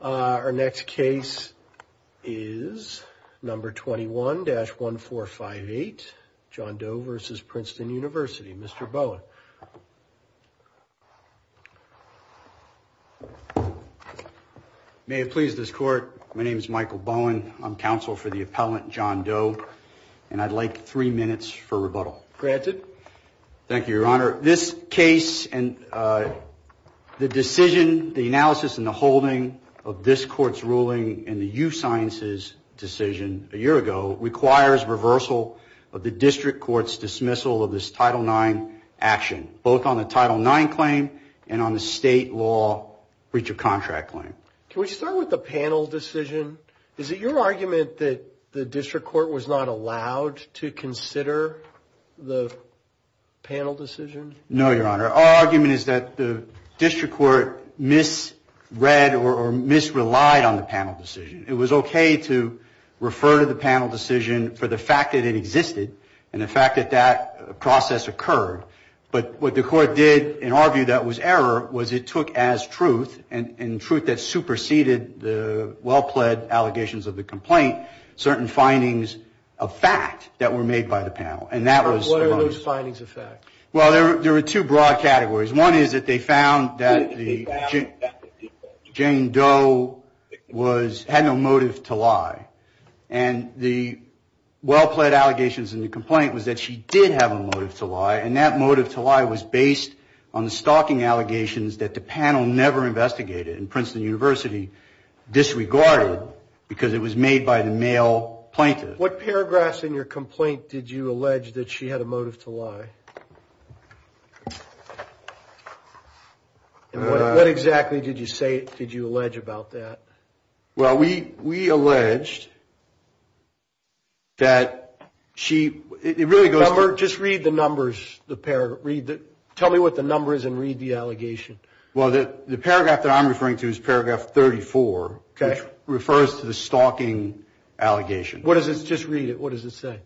Our next case is number 21-1458, John Doe v. Princeton University. Mr. Bowen. May it please this court. My name is Michael Bowen. I'm counsel for the appellant, John Doe, and I'd like three minutes for rebuttal. Granted. Thank you, Your Honor. Your Honor, this case and the decision, the analysis and the holding of this court's ruling in the U Sciences decision a year ago requires reversal of the district court's dismissal of this Title IX action, both on the Title IX claim and on the state law breach of contract claim. Can we start with the panel decision? Is it your argument that the district court was not allowed to consider the panel decision? No, Your Honor. Our argument is that the district court misread or misrelied on the panel decision. It was okay to refer to the panel decision for the fact that it existed and the fact that that process occurred. But what the court did in our view that was error was it took as truth and truth that superseded the well-pled allegations of the complaint certain findings of fact that were made by the panel. And that was. What are those findings of fact? Well, there were two broad categories. One is that they found that Jane Doe had no motive to lie. And the well-pled allegations in the complaint was that she did have a motive to lie. And that motive to lie was based on the stalking allegations that the panel never investigated. And Princeton University disregarded because it was made by the male plaintiff. What paragraphs in your complaint did you allege that she had a motive to lie? And what exactly did you say? Did you allege about that? Well, we we alleged. That she really goes over just read the numbers. The pair read that tell me what the number is and read the allegation. Well, the paragraph that I'm referring to is paragraph 34 refers to the stalking allegation. What does this just read it? What does it say?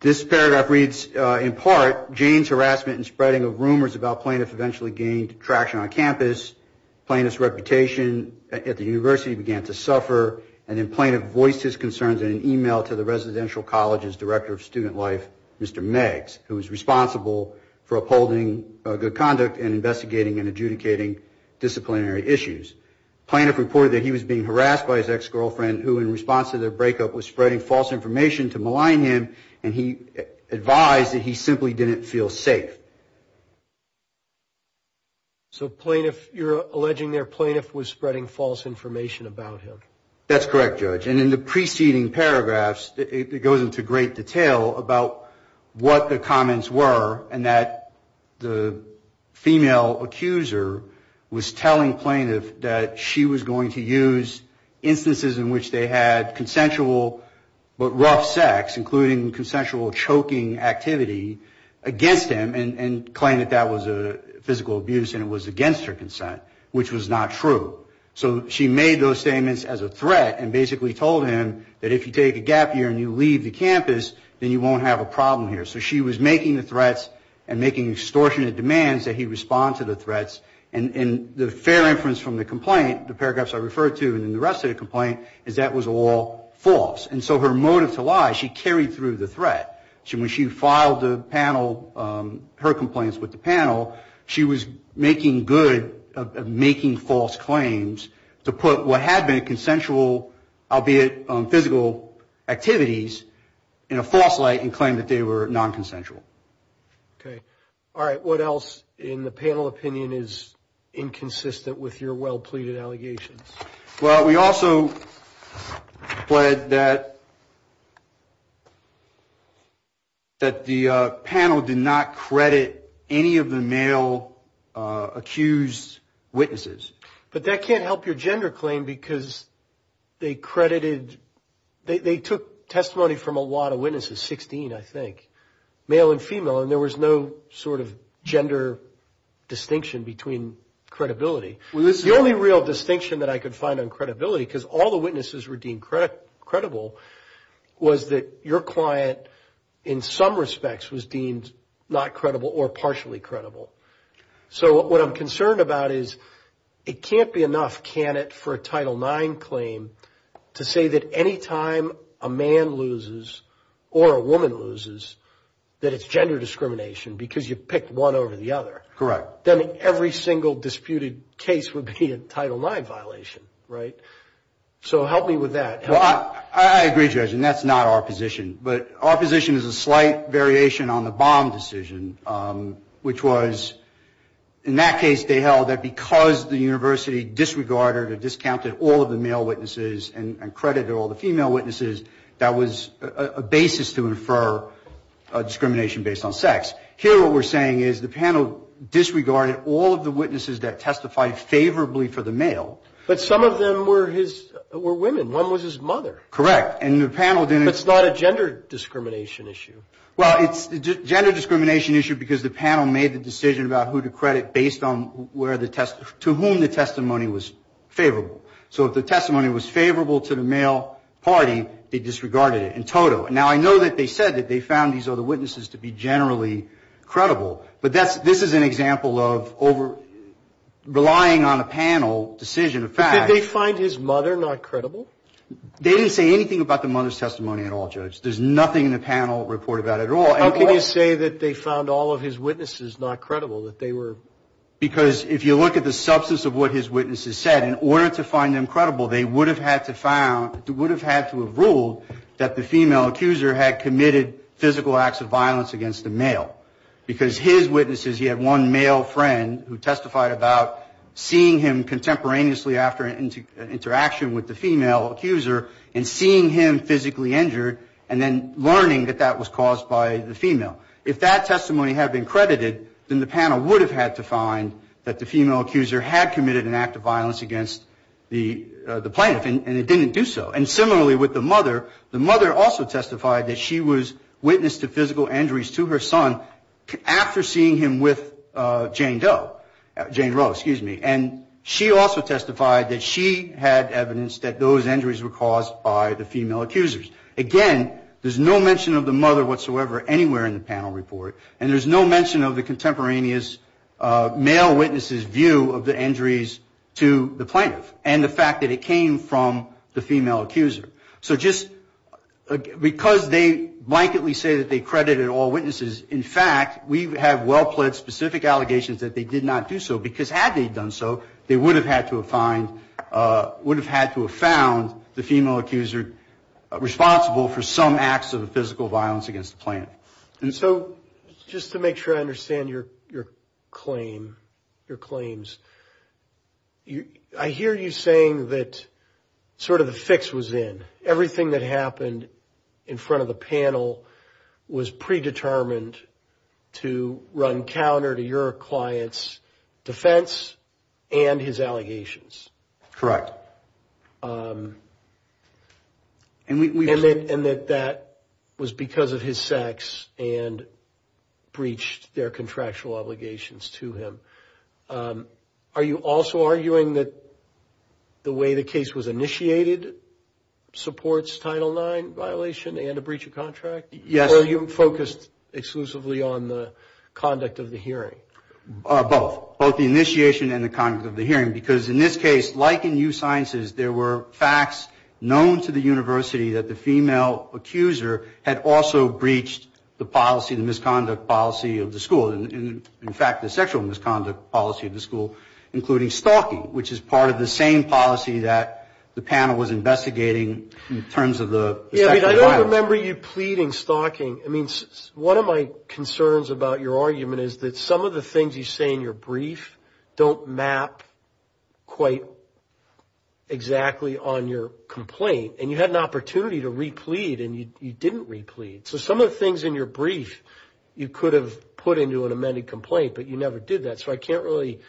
This paragraph reads, in part, Jane's harassment and spreading of rumors about plaintiff eventually gained traction on campus. Plaintiff's reputation at the university began to suffer. And then plaintiff voiced his concerns in an email to the residential college's director of student life, Mr. Meigs, who was responsible for upholding good conduct and investigating and adjudicating disciplinary proceedings. Plaintiff reported that he was being harassed by his ex-girlfriend who, in response to their breakup, was spreading false information to malign him. And he advised that he simply didn't feel safe. So plaintiff, you're alleging their plaintiff was spreading false information about him. That's correct, Judge. And in the preceding paragraphs, it goes into great detail about what the comments were and that the female accuser was telling plaintiff that she was going to use instances in which they had consensual but rough sex, including consensual choking activity, against him and claim that that was a physical abuse and it was against her consent, which was not true. So she made those statements as a threat and basically told him that if you take a gap year and you leave the campus, then you won't have a problem here. So she was making the threats and making extortionate demands that he respond to the threats. And the fair inference from the complaint, the paragraphs I referred to and the rest of the complaint, is that was all false. And so her motive to lie, she carried through the threat. When she filed her complaints with the panel, she was making good, making false claims to put what had been consensual, albeit physical activities, in a false light and claim that they were non-consensual. Okay. All right. What else in the panel opinion is inconsistent with your well-pleaded allegations? Well, we also pled that the panel did not credit any of the male accused witnesses. But that can't help your gender claim because they credited, they took testimony from a lot of witnesses, 16, I think, male and female, and there was no sort of gender distinction between credibility. The only real distinction that I could find on credibility, because all the witnesses were deemed credible, was that your client, in some respects, was deemed not credible or partially credible. So what I'm concerned about is it can't be enough, can it, for a Title IX claim to say that any time a man loses or a woman loses, that it's gender discrimination because you picked one over the other. Correct. Then every single disputed case would be a Title IX violation, right? So help me with that. Well, I agree, Judge, and that's not our position. But our position is a slight variation on the Baum decision, which was, in that case, they held that because the university disregarded or discounted all of the male witnesses and credited all the female witnesses, that was a basis to infer discrimination based on sex. Here what we're saying is the panel disregarded all of the witnesses that testified favorably for the male. But some of them were his, were women. One was his mother. Correct. And the panel didn't... But it's not a gender discrimination issue. Well, it's a gender discrimination issue because the panel made the decision about who to credit based on where the test, to whom the testimony was favorable. So if the testimony was favorable to the male party, they disregarded it in toto. Now, I know that they said that they found these other witnesses to be generally credible, but this is an example of relying on a panel decision of fact. But did they find his mother not credible? It's not about the mother's testimony at all, Judge. There's nothing in the panel report about it at all. How can you say that they found all of his witnesses not credible, that they were... Because if you look at the substance of what his witnesses said, in order to find them credible, they would have had to found, would have had to have ruled that the female accuser had committed physical acts of violence against a male. Because his witnesses, he had one male friend who testified about seeing him contemporaneously after an interaction with the female accuser and seeing him physically injured and then learning that that was caused by the female. If that testimony had been credited, then the panel would have had to find that the female accuser had committed an act of violence against the plaintiff, and it didn't do so. And similarly with the mother, the mother also testified that she was witness to physical injuries to her son after seeing him with Jane Doe, Jane Roe, excuse me. And she also testified that she had evidence that those injuries were caused by the female accusers. Again, there's no mention of the mother whatsoever anywhere in the panel report, and there's no mention of the contemporaneous male witnesses' view of the injuries to the plaintiff and the fact that it came from the female accuser. So just because they blanketly say that they credited all witnesses, in fact, we have well-plaid specific allegations that they did not do so, because had they done so, they would have had to have found the female accuser responsible for some acts of physical violence against the plaintiff. And so just to make sure I understand your claim, your claims, I hear you saying that sort of the fix was in. Everything that happened in front of the panel was predetermined to run counter to your client's pre-determined defense and his allegations. Correct. And that that was because of his sex and breached their contractual obligations to him. Are you also arguing that the way the case was initiated supports Title IX violation and a breach of contract? Yes. Or are you focused exclusively on the conduct of the hearing? Both, both the initiation and the conduct of the hearing, because in this case, like in U Sciences, there were facts known to the university that the female accuser had also breached the policy, the misconduct policy of the school, and in fact, the sexual misconduct policy of the school, including stalking, which is part of the same policy that the panel was investigating in terms of the sexual violence. I don't remember you pleading, stalking. I mean, one of my concerns about your argument is that some of the things you say in your brief don't map quite exactly on your complaint, and you had an opportunity to re-plead, and you didn't re-plead. So some of the things in your brief you could have put into an amended complaint, but you never did that. So I can't really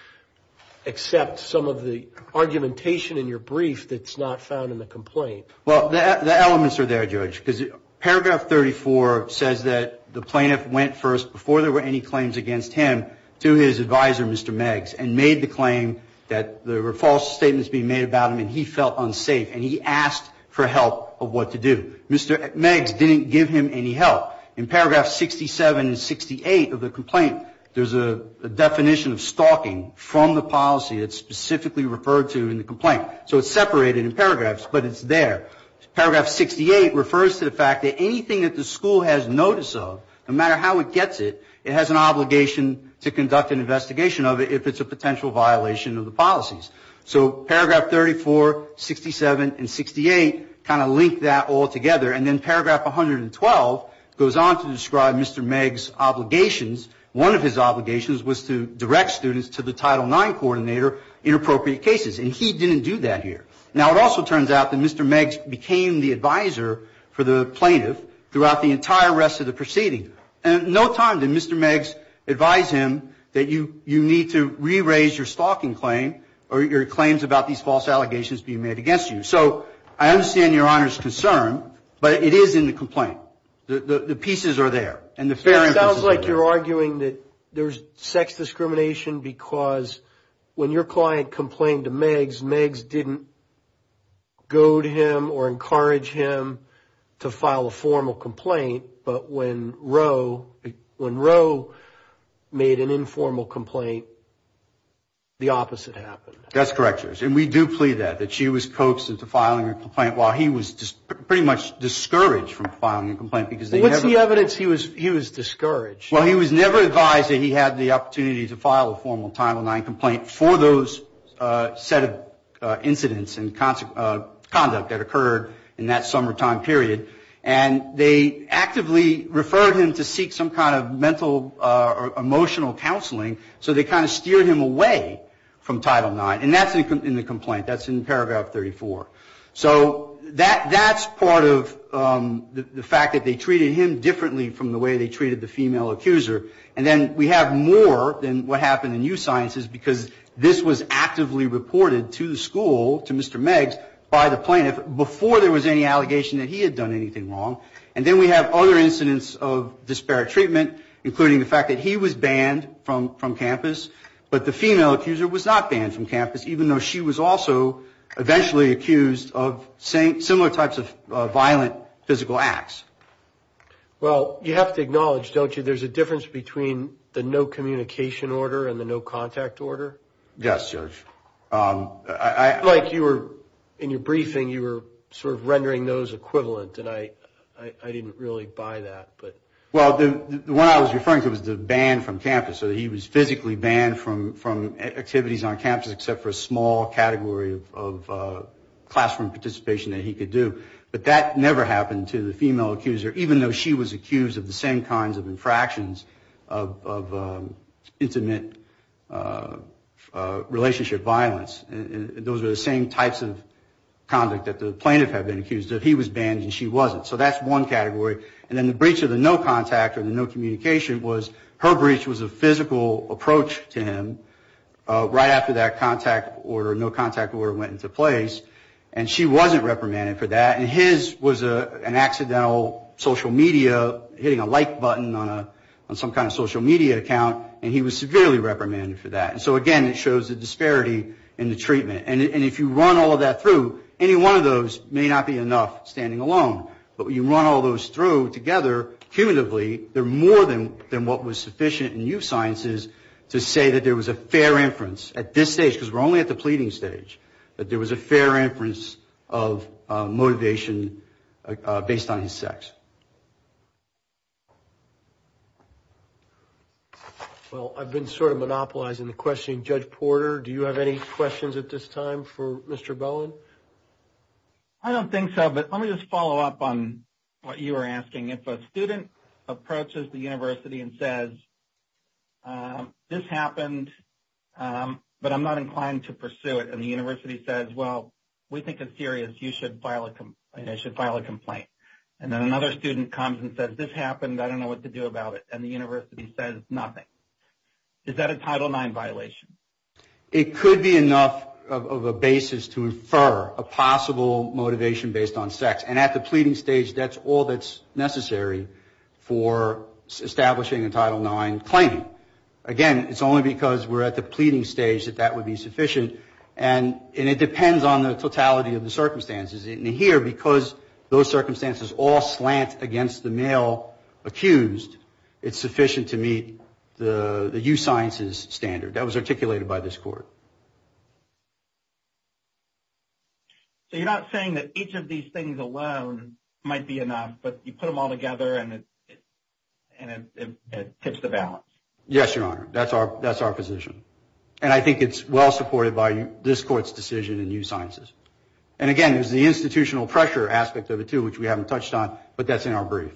accept some of the argumentation in your brief that's not found in the complaint. Well, the elements are there, Judge, because paragraph 34 says that the plaintiff went first, before there were any claims against him, to his advisor, Mr. Meggs, and made the claim that there were false statements being made about him, and he felt unsafe, and he asked for help of what to do. Mr. Meggs didn't give him any help. In paragraph 67 and 68 of the complaint, there's a definition of stalking from the policy that's specifically referred to in the complaint. So it's separated in paragraphs, but it's there. Paragraph 68 refers to the fact that anything that the school has notice of, no matter how it gets it, it has an obligation to conduct an investigation of it, if it's a potential violation of the policies. So paragraph 34, 67, and 68 kind of link that all together, and then paragraph 112 goes on to describe Mr. Meggs' obligations. One of his obligations was to direct students to the Title IX coordinator in appropriate cases, and he didn't do that. Now, it also turns out that Mr. Meggs became the advisor for the plaintiff throughout the entire rest of the proceeding. And in no time did Mr. Meggs advise him that you need to re-raise your stalking claim, or your claims about these false allegations being made against you. So I understand Your Honor's concern, but it is in the complaint. The pieces are there, and the fair emphasis is there. It sounds like you're arguing that there's sex discrimination because when your client complained to Meggs, Meggs didn't goad him or encourage him to file a formal complaint, but when Roe made an informal complaint, the opposite happened. That's correct, Your Honor, and we do plead that, that she was coaxed into filing a complaint while he was pretty much discouraged from filing a complaint. What's the evidence he was discouraged? Well, he was never advised that he had the opportunity to file a formal Title IX complaint for those set of incidents and conduct that occurred in that summertime period. And they actively referred him to seek some kind of mental or emotional counseling, so they kind of steered him away from Title IX, and that's in the complaint, that's in paragraph 34. So that's part of the fact that they treated him differently from the way they treated the female accuser. And then we have more than what happened in Youth Sciences, because this was actively reported to the school, to Mr. Meggs, by the plaintiff, before there was any allegation that he had done anything wrong. And then we have other incidents of disparate treatment, including the fact that he was banned from campus, but the female accuser was not banned from campus, even though she was also eventually accused of sexual assault. She was accused of similar types of violent physical acts. Well, you have to acknowledge, don't you, there's a difference between the no communication order and the no contact order? Yes, Judge. Mike, you were, in your briefing, you were sort of rendering those equivalent, and I didn't really buy that. Well, the one I was referring to was the ban from campus, so he was physically banned from activities on campus except for a small category of classified activities. That was the last form of participation that he could do, but that never happened to the female accuser, even though she was accused of the same kinds of infractions of intimate relationship violence. Those were the same types of conduct that the plaintiff had been accused of. He was banned and she wasn't, so that's one category, and then the breach of the no contact or the no communication was, her breach was a physical approach to him, right after that contact order, no contact order went into place. And she wasn't reprimanded for that, and his was an accidental social media, hitting a like button on some kind of social media account, and he was severely reprimanded for that. And so, again, it shows the disparity in the treatment, and if you run all of that through, any one of those may not be enough standing alone, but when you run all those through together, cumulatively, they're more than what was sufficient in youth sciences to say that there was a fair inference at this stage, because we're only at the pleading stage, that there was a fair inference of motivation based on his sex. Well, I've been sort of monopolizing the question, Judge Porter, do you have any questions at this time for Mr. Bowen? I don't think so, but let me just follow up on what you were asking. If a student approaches the university and says, this happened, but I'm not inclined to pursue it, and the university says, no, you can't pursue it. If a student approaches the university and says, well, we think it's serious, you should file a complaint, and then another student comes and says, this happened, I don't know what to do about it, and the university says nothing, is that a Title IX violation? It could be enough of a basis to infer a possible motivation based on sex, and at the pleading stage, that's all that's necessary for establishing a Title IX claim. Again, it's only because we're at the pleading stage that that would be sufficient, and it depends on the totality of the circumstances. And here, because those circumstances all slant against the male accused, it's sufficient to meet the youth sciences standard. That was articulated by this Court. So you're not saying that each of these things alone might be enough, but you put them all together, and it tips the balance? Yes, Your Honor, that's our position, and I think it's well supported by this Court's decision in youth sciences. And again, there's the institutional pressure aspect of it, too, which we haven't touched on, but that's in our brief.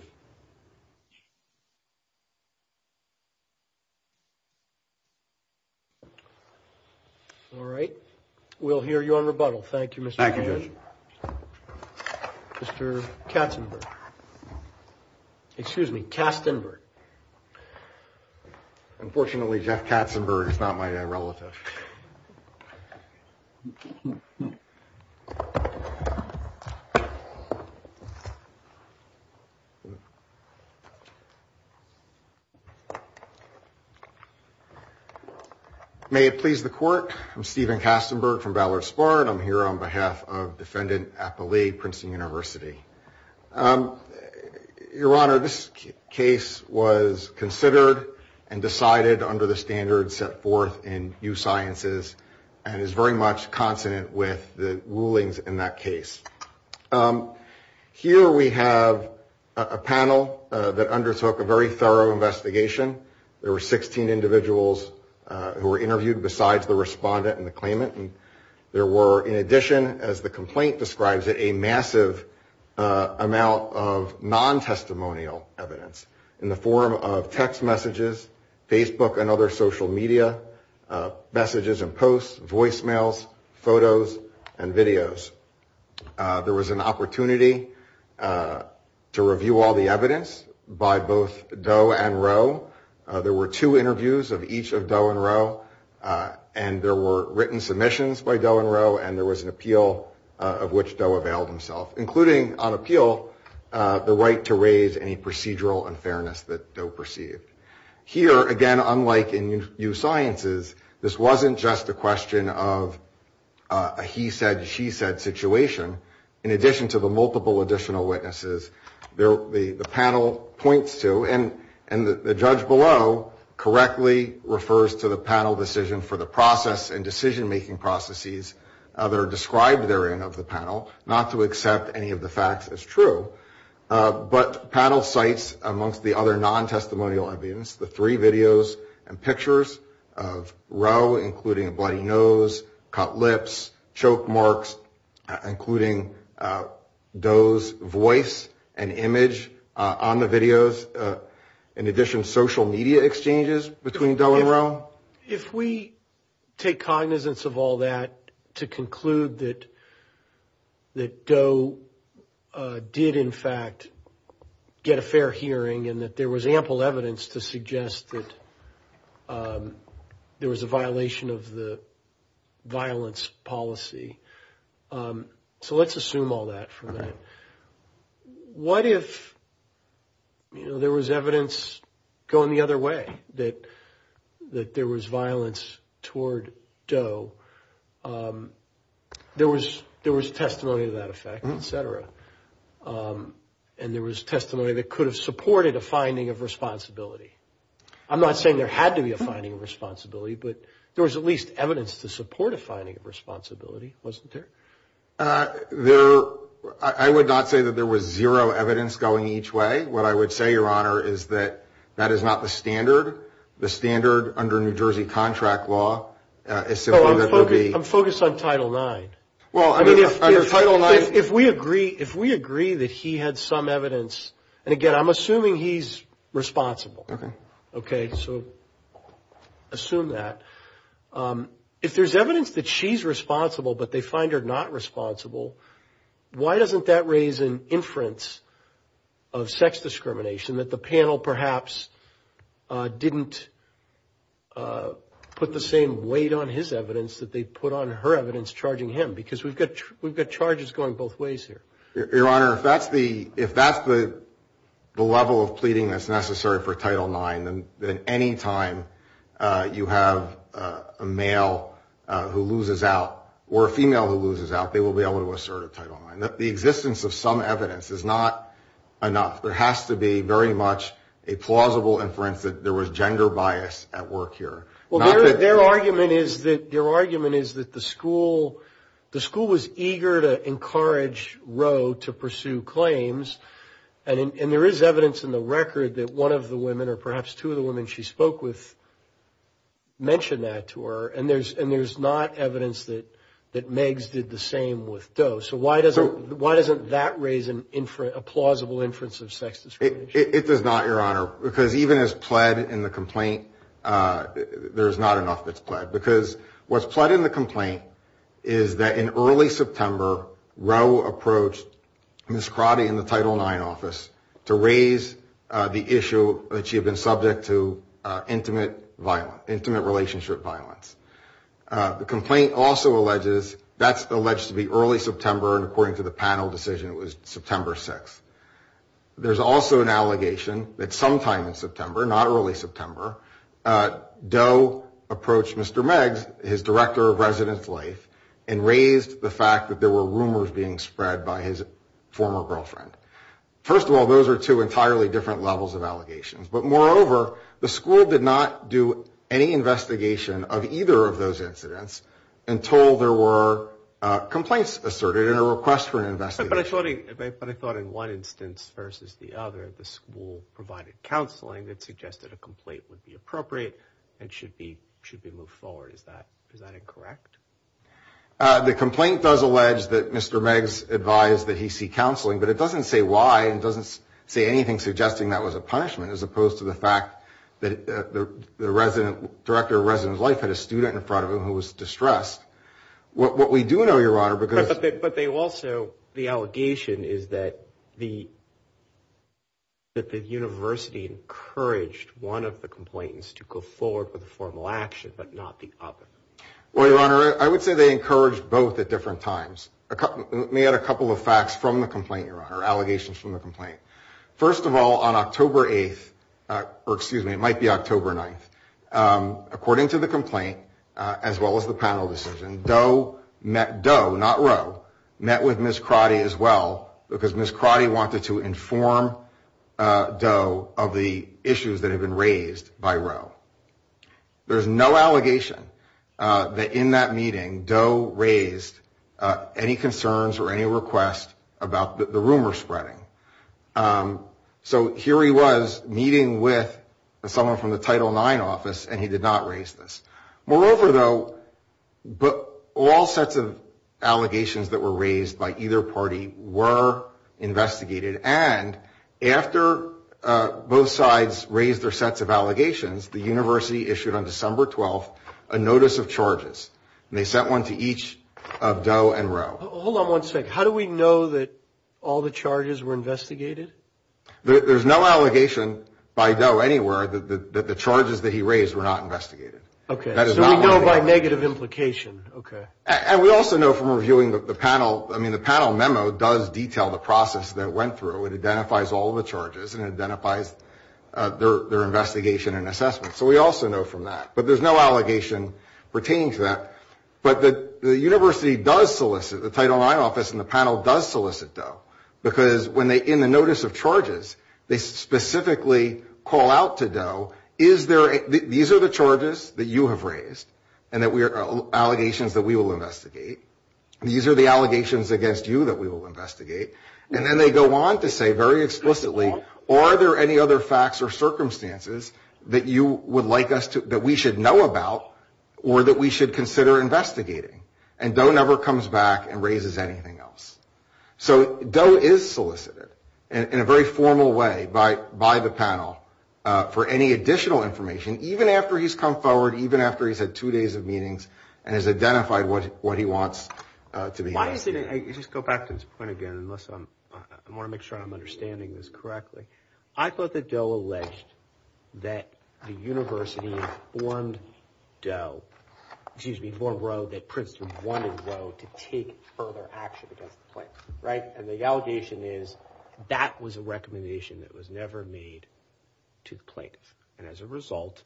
All right, we'll hear you on rebuttal. Thank you, Mr. Mann. Mr. Katzenberg. Unfortunately, Jeff Katzenberg is not my relative. May it please the Court, I'm Stephen Katzenberg from Ballard Sparr, and I'm here on behalf of Defendant Appelee, Princeton University. Your Honor, this case was considered and decided under the standards set forth in youth sciences, and is very much consonant with the rulings in that case. Here we have a panel that undertook a very thorough investigation. There were 16 individuals who were interviewed besides the respondent and the claimant, and there were, in addition, as the complaint describes it, a massive amount of non-testimonial evidence in the form of text messages, Facebook and other social media, messages and posts, voicemails, photos, and videos. There was an opportunity to review all the evidence by both Doe and Rowe. There were two interviews of each of Doe and Rowe, and there were written submissions by Doe and Rowe, and there was an appeal of which Doe availed. Including, on appeal, the right to raise any procedural unfairness that Doe perceived. Here, again, unlike in youth sciences, this wasn't just a question of a he said, she said situation. In addition to the multiple additional witnesses, the panel points to, and the judge below correctly refers to the panel decision for the process and decision-making processes that are described therein of the panel, not to accept any of the facts as true, but panel cites, amongst the other non-testimonial evidence, the three videos and pictures of Rowe, including a bloody nose, cut lips, choke marks, including Doe's voice and image on the videos, in addition to social media exchanges between Doe and Rowe. If we take cognizance of all that to conclude that Doe did, in fact, get a fair hearing and that there was ample evidence to suggest that there was a violation of the violence policy, so let's assume all that for a minute, what if there was evidence going the other way? That there was violence toward Doe, there was testimony to that effect, et cetera, and there was testimony that could have supported a finding of responsibility. I'm not saying there had to be a finding of responsibility, but there was at least evidence to support a finding of responsibility, wasn't there? There, I would not say that there was zero evidence going each way. What I would say, Your Honor, is that that is not the standard. The standard under New Jersey contract law is simply that there be... I'm focused on Title IX. If we agree that he had some evidence, and again, I'm assuming he's responsible, okay, so assume that, if there's evidence that she's responsible, but they find her not, why doesn't that raise an inference of sex discrimination, that the panel perhaps didn't put the same weight on his evidence that they put on her evidence charging him, because we've got charges going both ways here. Your Honor, if that's the level of pleading that's necessary for Title IX, then any time you have a male who loses out, or a female who loses out, that's a good thing. If they lose out, they will be able to assert a Title IX. The existence of some evidence is not enough. There has to be very much a plausible inference that there was gender bias at work here. Well, their argument is that the school was eager to encourage Roe to pursue claims, and there is evidence in the record that one of the women, or perhaps two of the women she spoke with mentioned that to her, and there's not evidence that Meigs did the same thing. So why doesn't that raise a plausible inference of sex discrimination? It does not, Your Honor, because even as pled in the complaint, there's not enough that's pled, because what's pled in the complaint is that in early September, Roe approached Ms. Crotty in the Title IX office to raise the issue that she had been subject to intimate violence, intimate relationship violence. The complaint also alleges that's alleged to be early September, and according to the panel decision, it was September 6th. There's also an allegation that sometime in September, not early September, Doe approached Mr. Meigs, his director of residence life, and raised the fact that there were rumors being spread by his former girlfriend. First of all, those are two entirely different levels of allegations, but moreover, the school did not do any investigation on the origin of either of those incidents until there were complaints asserted and a request for an investigation. But I thought in one instance versus the other, the school provided counseling that suggested a complaint would be appropriate and should be moved forward. Is that incorrect? The complaint does allege that Mr. Meigs advised that he see counseling, but it doesn't say why. It doesn't say anything suggesting that was a punishment, as opposed to the fact that the director of residence life had a student in front of him who was distressed. What we do know, Your Honor, because... But they also, the allegation is that the university encouraged one of the complainants to go forward with a formal action, but not the other. Well, Your Honor, I would say they encouraged both at different times. Let me add a couple of facts from the complaint, Your Honor, allegations from the complaint. First of all, on October 8th, or excuse me, it might be October 9th, according to the complaint, as well as the panel decision, Doe met, Doe, not Roe, met with Ms. Crotty as well, because Ms. Crotty wanted to inform Doe of the issues that have been raised by Roe. There's no allegation that in that meeting, Doe raised any concerns or any requests about the rumor spreading. So here he was meeting with someone from the Title IX office, and he did not raise this. Moreover, though, all sets of allegations that were raised by either party were investigated, and after both sides raised their sets of allegations, the university issued on December 12th a notice of charges, and they sent one to each of Doe and Roe. Hold on one second, how do we know that all the charges were investigated? There's no allegation by Doe anywhere that the charges that he raised were not investigated. Okay, so we know by negative implication, okay. And we also know from reviewing the panel, I mean, the panel memo does detail the process that it went through. It identifies all the charges, and it identifies their investigation and assessment. So we also know from that, but there's no allegation pertaining to that. But the university does solicit, the Title IX office and the panel does solicit Doe, because when they, in the notice of charges, they specifically call out to Doe, is there, these are the charges that you have raised, and that we are, allegations that we will investigate. These are the allegations against you that we will investigate. And then they go on to say very explicitly, are there any other facts or circumstances that you would like us to, that we should know about, or that we should consider investigating? And Doe never comes back and raises anything else. So Doe is solicited in a very formal way by the panel for any additional information, even after he's come forward, even after he's had two days of meetings, I want to make sure I'm understanding this correctly. I thought that Doe alleged that the university informed Doe, excuse me, warned Roe that Princeton wanted Roe to take further action against the plaintiff. And the allegation is that was a recommendation that was never made to the plaintiff. And as a result,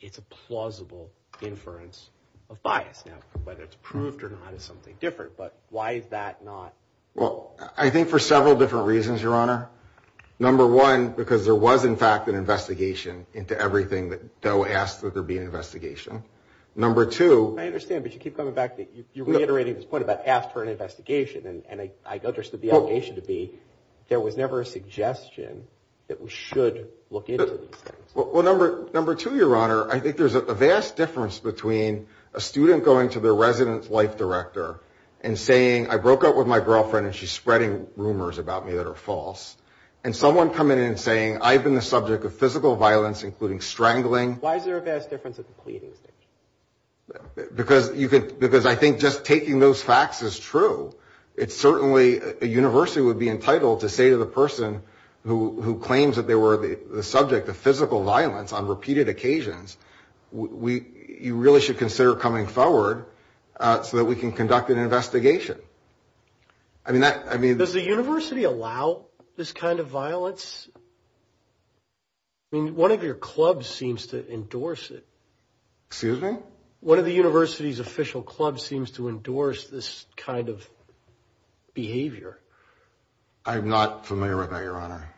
it's a plausible inference of bias. Now, whether it's proved or not is something different, but why is that not? Well, I think for several different reasons, Your Honor. Number one, because there was, in fact, an investigation into everything that Doe asked that there be an investigation. Number two. I understand, but you keep coming back, you're reiterating this point about asking for an investigation, and I understood the allegation to be there was never a suggestion that we should look into these things. Well, number two, Your Honor, I think there's a vast difference between a student going to their resident's life director and saying, I broke up with my girlfriend, and she's spreading rumors about me that are false, and someone coming in and saying, I've been the subject of physical violence, including strangling. Why is there a vast difference at the pleading stage? Because I think just taking those facts is true. It's certainly, a university would be entitled to say to the person who claims that they were the subject of physical violence on repeated occasions, you really should consider coming forward so that we can conduct an investigation. Does the university allow this kind of violence? One of your clubs seems to endorse it. Excuse me? I'm not familiar with that, Your Honor.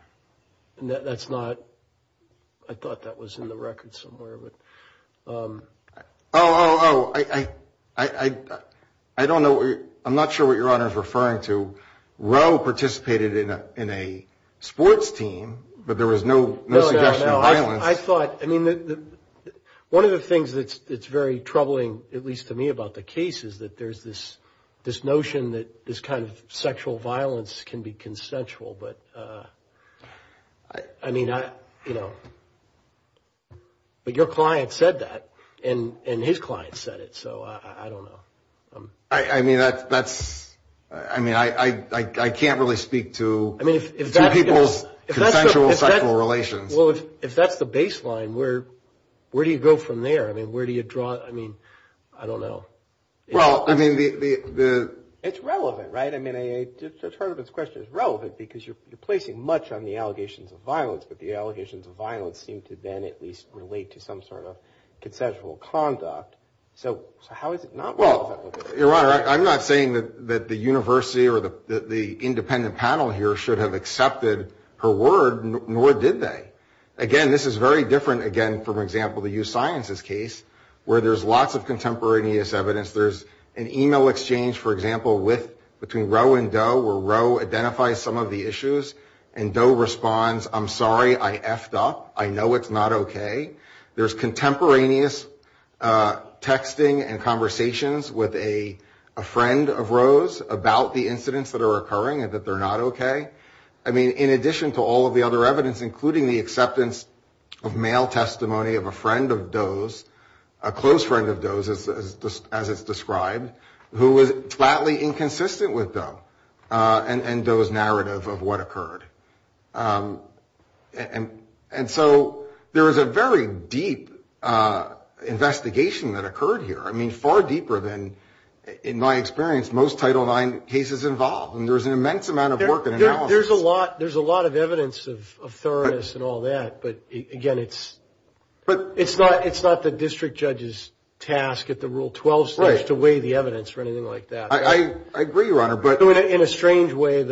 Oh, I'm not sure what Your Honor is referring to. Roe participated in a sports team, but there was no suggestion of violence. I thought, I mean, one of the things that's very troubling, at least to me, about the case is that there's this notion that this kind of sexual violence can be consensual, but, I mean, I, you know, but your client said that, and his client said it, so I don't know. I mean, that's, I mean, I can't really speak to people's consensual sexual relations. Well, if that's the baseline, where do you go from there? I mean, where do you draw, I mean, I don't know. Well, I mean, the... It's relevant, right? I mean, I just heard this question. It's relevant because you're placing much on the allegations of violence, but the allegations of violence seem to then at least relate to some sort of consensual conduct, so how is it not relevant? Well, Your Honor, I'm not saying that the university or the independent panel here should have accepted her word, nor did they. Again, this is very different, again, from, for example, the USciences case, where there's lots of contemporaneous evidence. There's an email exchange, for example, with, between Roe and Doe, where Roe identifies some of the issues, and Doe responds, I'm sorry, I effed up, I know it's not okay. There's contemporaneous texting and conversations with a friend of Roe's about the incidents that are occurring and that they're not okay. I mean, in addition to all of the other evidence, including the acceptance of mail testimony of a friend of Doe's, a close friend of Doe's, as it's described, who was flatly inconsistent with Doe, and Doe's narrative of what occurred. And so there is a very deep investigation that occurred here, I mean, far deeper than, in my experience, most Title IX cases involved, and there's an immense amount of work in analysis. There's a lot of evidence of thoroughness and all that, but again, it's not the district judge's task at the Rule 12 stage to weigh the evidence or anything like that. I agree, Your Honor, but... In a strange way,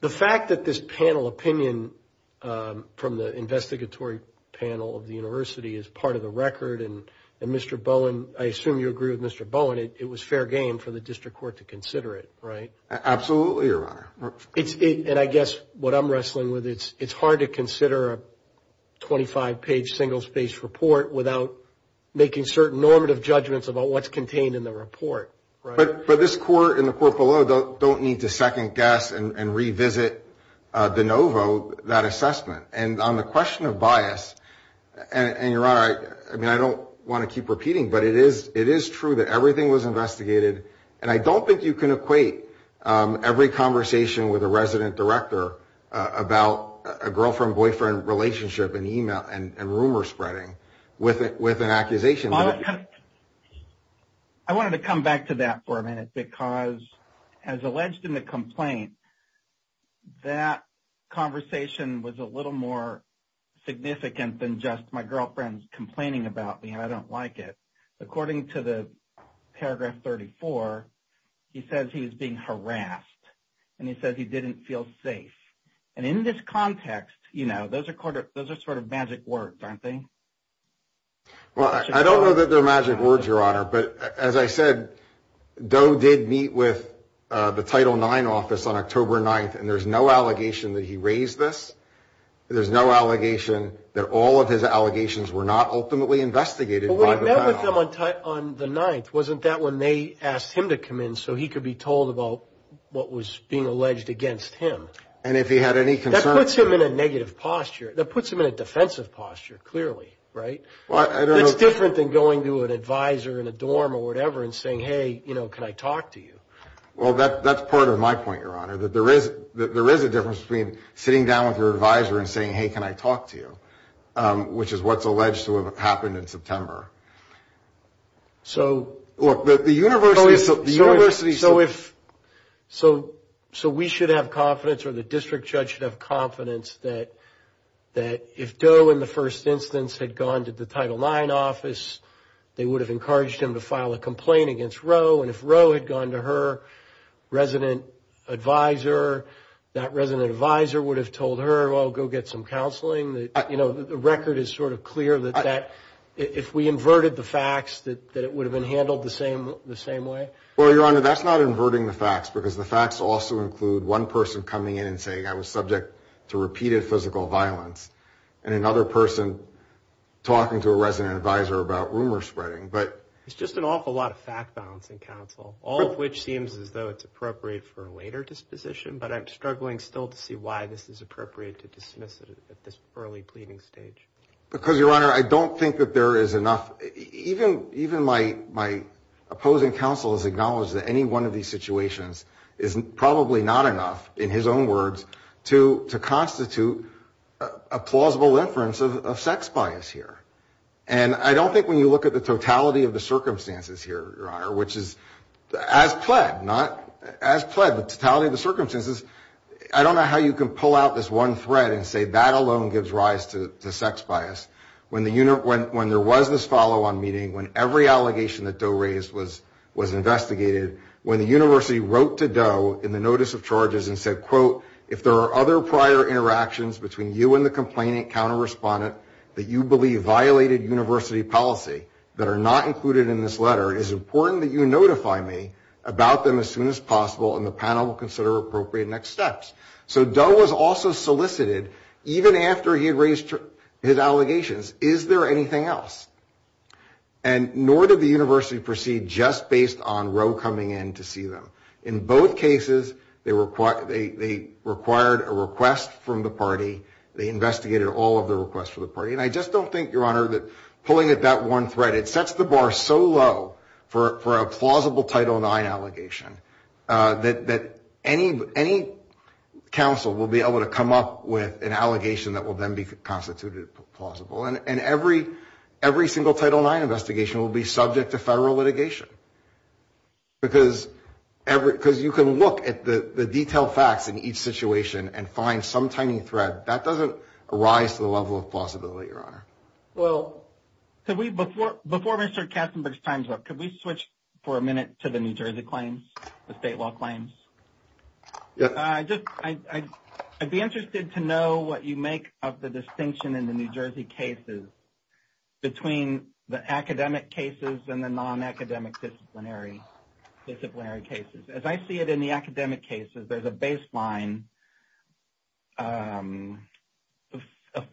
the fact that this panel opinion from the investigatory panel of the university is part of the record, and Mr. Bowen, I assume you agree with Mr. Bowen, it was fair game for the district court to consider it, right? Absolutely, Your Honor. And I guess what I'm wrestling with, it's hard to consider a 25-page single-spaced report without making certain normative judgments about what's contained in the report, right? But this court and the court below don't need to second-guess and revisit de novo that assessment. And on the question of bias, and Your Honor, I mean, I don't want to keep repeating, but it is true that everything was investigated, and I don't think you can equate every conversation with a resident director about a girlfriend-boyfriend relationship in e-mail and rumor spreading with an accusation. I wanted to come back to that for a minute, because as alleged in the complaint, that conversation was a little more nuanced than it should have been. And it was a little more significant than just my girlfriend's complaining about me and I don't like it. According to the paragraph 34, he says he was being harassed, and he says he didn't feel safe. And in this context, you know, those are sort of magic words, aren't they? Well, I don't know that they're magic words, Your Honor, but as I said, Doe did meet with the Title IX office on October 9th, and there's no allegation that he raised this. There's no allegation that all of his allegations were not ultimately investigated by the Title IX. But what he met with them on the 9th, wasn't that when they asked him to come in so he could be told about what was being alleged against him? And if he had any concerns... That puts him in a negative posture. That puts him in a defensive posture, clearly, right? Well, I don't know... I don't know that he was being harassed, and he wasn't saying, hey, can I talk to you, which is what's alleged to have happened in September. So... So we should have confidence, or the district judge should have confidence, that if Doe in the first instance had gone to the Title IX office, they would have encouraged him to file a complaint against Roe. And if Roe had gone to her resident advisor, that resident advisor would have told her, well, go get some counseling. You know, the record is sort of clear that if we inverted the facts, that it would have been handled the same way. Well, Your Honor, that's not inverting the facts, because the facts also include one person coming in and saying, I was subject to repeated physical violence. And another person talking to a resident advisor about rumor spreading, but... It's just an awful lot of fact-balancing, counsel, all of which seems as though it's appropriate for a later disposition. But I'm struggling still to see why this is appropriate to dismiss at this early pleading stage. Because, Your Honor, I don't think that there is enough, even my opposing counsel has acknowledged that any one of these situations is probably not enough, in his own words, to constitute a plausible inference of sex bias here. And I don't think when you look at the totality of the circumstances here, Your Honor, which is as pled, not... I don't know how you can pull out this one thread and say that alone gives rise to sex bias. When there was this follow-on meeting, when every allegation that Doe raised was investigated, when the university wrote to Doe in the notice of charges and said, quote, if there are other prior interactions between you and the complainant counter-respondent that you believe violated university policy, that are not included in this letter, it is important that you notify me about them as soon as possible, and the panel will consider appropriate next steps. So Doe was also solicited, even after he had raised his allegations, is there anything else? And nor did the university proceed just based on Roe coming in to see them. In both cases, they required a request from the party, they investigated all of the requests from the party. And I just don't think, Your Honor, that pulling at that one thread, it sets the bar so low for a plausible Title IX allegation that any counsel will be able to come up with an allegation that will then be constituted plausible. And every single Title IX investigation will be subject to federal litigation. Because you can look at the detailed facts in each situation and find some tiny thread. That doesn't rise to the level of plausibility, Your Honor. Well, before Mr. Katzenberg's time's up, could we switch for a minute to the New Jersey claims, the state law claims? I'd be interested to know what you make of the distinction in the New Jersey cases, between the academic cases and the non-academic disciplinary cases. As I see it in the academic cases, there's a baseline, a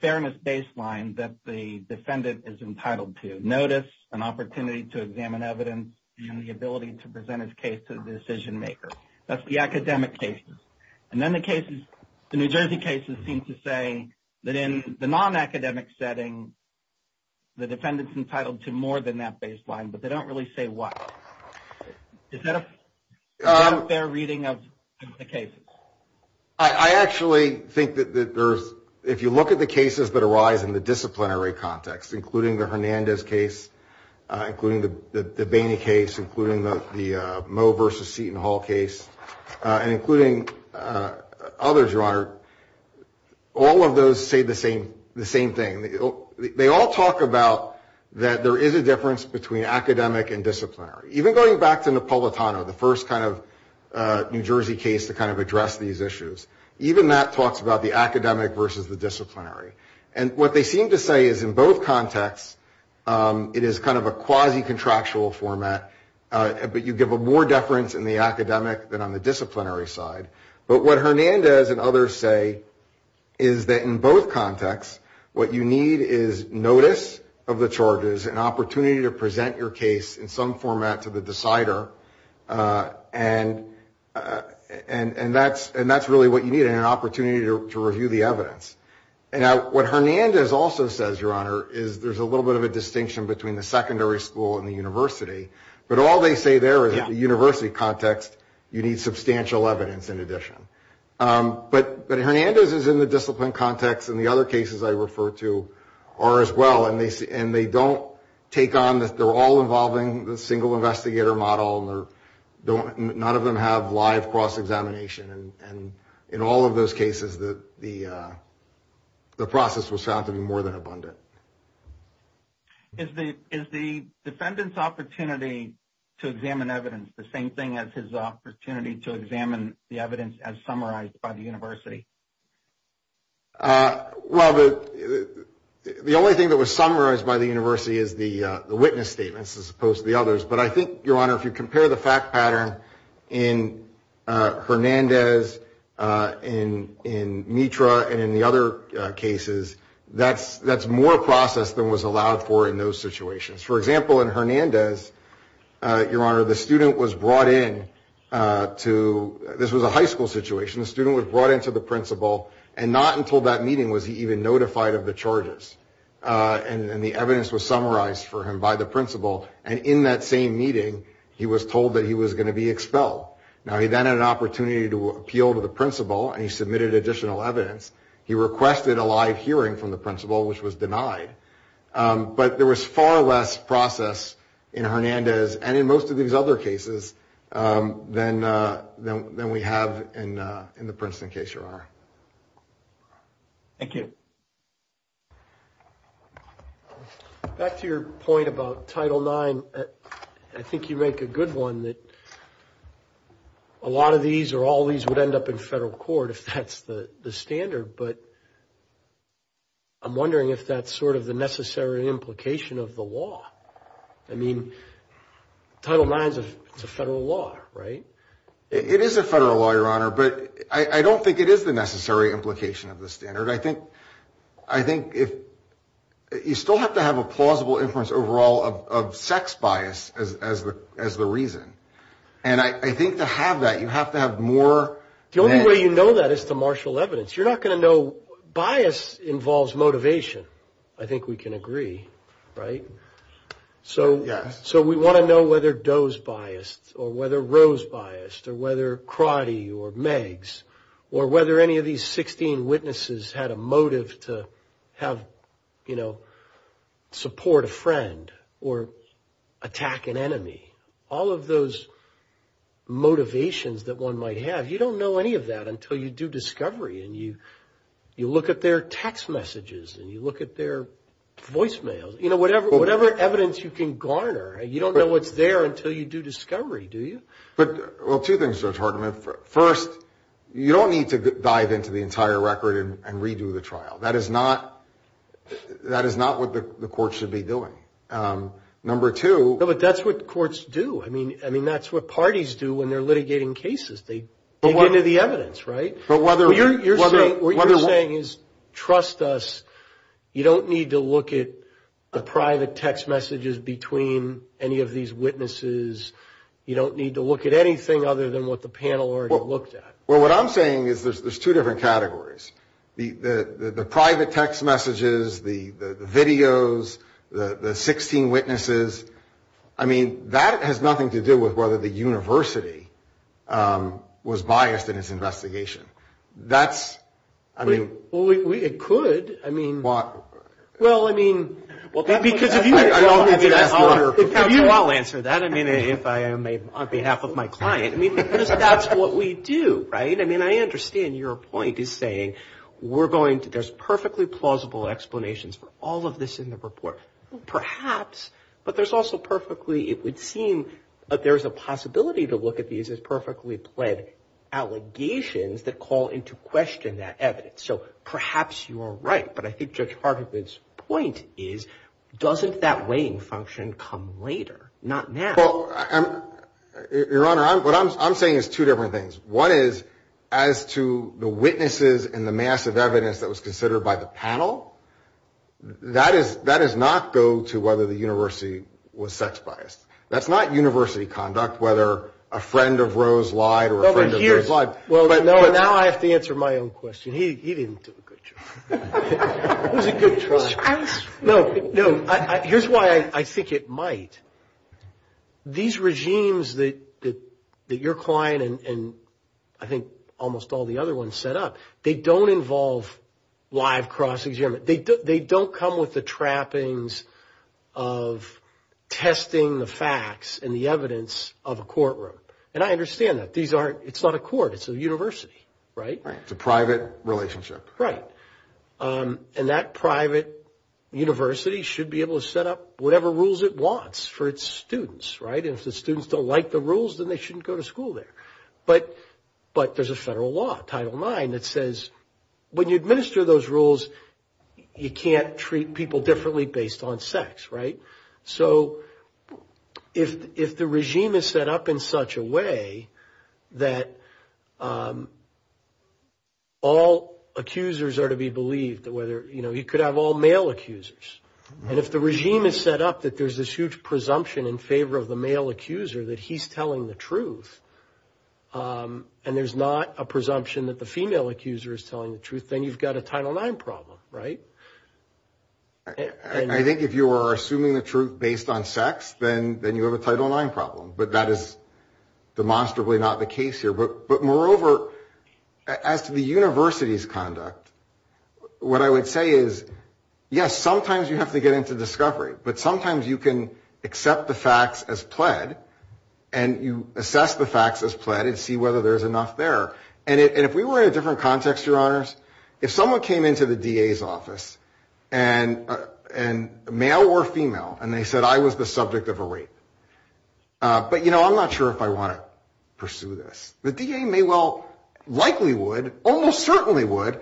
fairness baseline, that the defendant is entitled to notice, an opportunity to examine evidence, and the ability to present his case to the decision-maker. That's the academic cases. And then the New Jersey cases seem to say that in the non-academic setting, the defendant's entitled to more than that baseline, but they don't really say what. Is that a fair reading of the cases? I actually think that there's, if you look at the cases that arise in the disciplinary context, including the Hernandez case, including the Boehne case, including the Moe versus Seton Hall case, and including others, Your Honor, all of those say the same thing. They all talk about that there is a difference between academic and disciplinary. Even going back to Napolitano, the first kind of New Jersey case to kind of address these issues, even that talks about the academic versus the disciplinary. And what they seem to say is in both contexts, it is kind of a quasi-contractual format, but you give a more deference in the academic than on the disciplinary side. But what Hernandez and others say is that in both contexts, what you need is notice of the charges, an opportunity to present your case in some format to the decider, and that's really what you need, an opportunity to review the evidence. And what Hernandez also says, Your Honor, is there's a little bit of a distinction between the secondary school and the university, but all they say there is in the university context, you need substantial evidence in addition. But Hernandez is in the discipline context, and the other cases I refer to are as well, and they don't take on, they're all involving the single investigator model, and none of them have live cross-examination, and in all of those cases, the process will sound to be more than abundant. Is the defendant's opportunity to examine evidence the same thing as his opportunity to examine the evidence as summarized by the university? Well, the only thing that was summarized by the university is the witness statements as opposed to the others, but I think, Your Honor, if you compare the fact pattern in Hernandez, in Mitra, and in the other cases, that's more process than was allowed for in those situations. For example, in Hernandez, Your Honor, the student was brought in to, this was a high school situation, the student was brought in to the principal, and not until that meeting was he even notified of the charges, and the evidence was summarized for him by the principal, and in that same meeting, he was told that he was going to be expelled. Now, he then had an opportunity to appeal to the principal, and he submitted additional evidence. He requested a live hearing from the principal, which was denied. But there was far less process in Hernandez, and in most of these other cases, than we have in the Princeton case, Your Honor. Thank you. Back to your point about Title IX, I think you make a good one, that a lot of these, or all of these, would end up in federal court, if that's the standard. But I'm wondering if that's sort of the necessary implication of the law. I mean, Title IX is a federal law, right? It is a federal law, Your Honor, but I don't think it is the necessary implication of the standard. I think you still have to have a plausible inference overall of sex bias as the reason. And I think to have that, you have to have more... The only way you know that is to marshal evidence. You're not going to know, bias involves motivation, I think we can agree, right? So we want to know whether Doe's biased, or whether Roe's biased, or whether Crotty, or Meg's, or whether any of these 16 witnesses had a motive to have, you know, support a friend, or attack an enemy, all of those motivations that one might have. You don't know any of that until you do discovery, and you look at their text messages, and you look at their voicemails, you know, whatever evidence you can garner. You don't know what's there until you do discovery, do you? Well, two things, Judge Hartman. First, you don't need to dive into the entire record and redo the trial. That is not what the court should be doing. Number two... No, but that's what courts do. I mean, that's what parties do when they're litigating cases. They dig into the evidence, right? What you're saying is, trust us, you don't need to look at the private text messages between any of these witnesses, you don't need to look at anything other than what the panel already looked at. Well, what I'm saying is there's two different categories. The private text messages, the videos, the 16 witnesses, I mean, that has nothing to do with whether the university was biased in its investigation. That's... Well, it could. I mean... That's what we do, right? I mean, I understand your point is saying we're going to... There's perfectly plausible explanations for all of this in the report, perhaps, but there's also perfectly... It would seem that there's a possibility to look at these as perfectly pled allegations that call into question that evidence. So perhaps you are right, but I think Judge Hartman's point is, doesn't that weighing function come later, not now? Well, Your Honor, what I'm saying is two different things. One is, as to the witnesses and the massive evidence that was considered by the panel, that does not go to whether the university was sex biased. That's not university conduct, whether a friend of Rose lied or a friend of Rose lied. Well, now I have to answer my own question. He didn't do a good job. No, no, here's why I think it might. These regimes that your client and I think almost all the other ones set up, they don't involve live cross-examination. They don't come with the trappings of testing the facts and the evidence of a courtroom. And I understand that. It's not a court, it's a university, right? It's a private relationship. Right. And that private university should be able to set up whatever rules it wants for its students, right? And if the students don't like the rules, then they shouldn't go to school there. But there's a federal law, Title IX, that says when you administer those rules, you can't treat people differently based on sex, right? So if the regime is set up in such a way that, you know, you can't treat people differently based on sex, right? All accusers are to be believed, whether, you know, you could have all male accusers. And if the regime is set up that there's this huge presumption in favor of the male accuser that he's telling the truth, and there's not a presumption that the female accuser is telling the truth, then you've got a Title IX problem, right? I think if you are assuming the truth based on sex, then you have a Title IX problem. But that is demonstrably not the case here. But moreover, as to the university's conduct, what I would say is, yes, sometimes you have to get into discovery, but sometimes you can accept the facts as pled, and you assess the facts as pled and see whether there's enough there. And if we were in a different context, Your Honors, if someone came into the DA's office, and male or female, and they said I was the subject of a rape, but, you know, I'm not sure if I want to pursue this. The DA may well likely would, almost certainly would,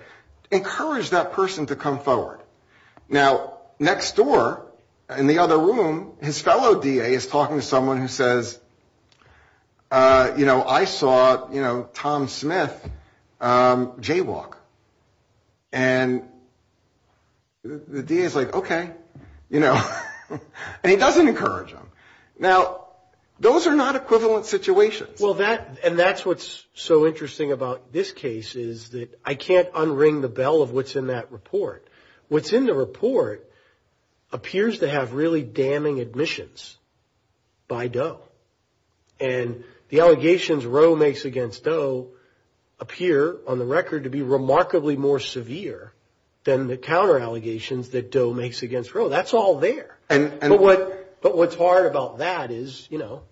encourage that person to come forward. Now, next door, in the other room, his fellow DA is talking to someone who says, you know, I saw, you know, Tom Smith jaywalk. And the DA is like, okay, you know. And he doesn't encourage them. Now, those are not equivalent situations. Well, and that's what's so interesting about this case is that I can't unring the bell of what's in that report. What's in the report appears to have really damning admissions by Doe. And the allegations Roe makes against Doe appear on the record to be remarkably more severe than the counter allegations that Doe makes against Roe. That's all there. But what's hard about that is, you know,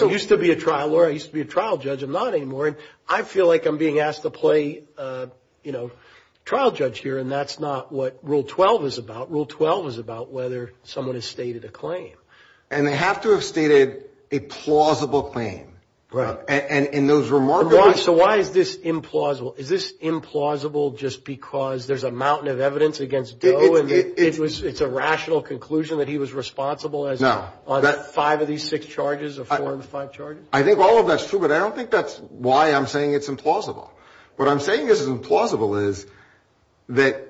I used to be a trial lawyer, I used to be a trial judge, I'm not anymore, and I feel like I'm being asked to play, you know, trial judge here, and that's not what Rule 12 is about. Whether someone has stated a claim. And they have to have stated a plausible claim. Right. And in those remarkable. So why is this implausible? Is this implausible just because there's a mountain of evidence against Doe? And it's a rational conclusion that he was responsible on five of these six charges, or four of the five charges? I think all of that's true, but I don't think that's why I'm saying it's implausible. What I'm saying is implausible is that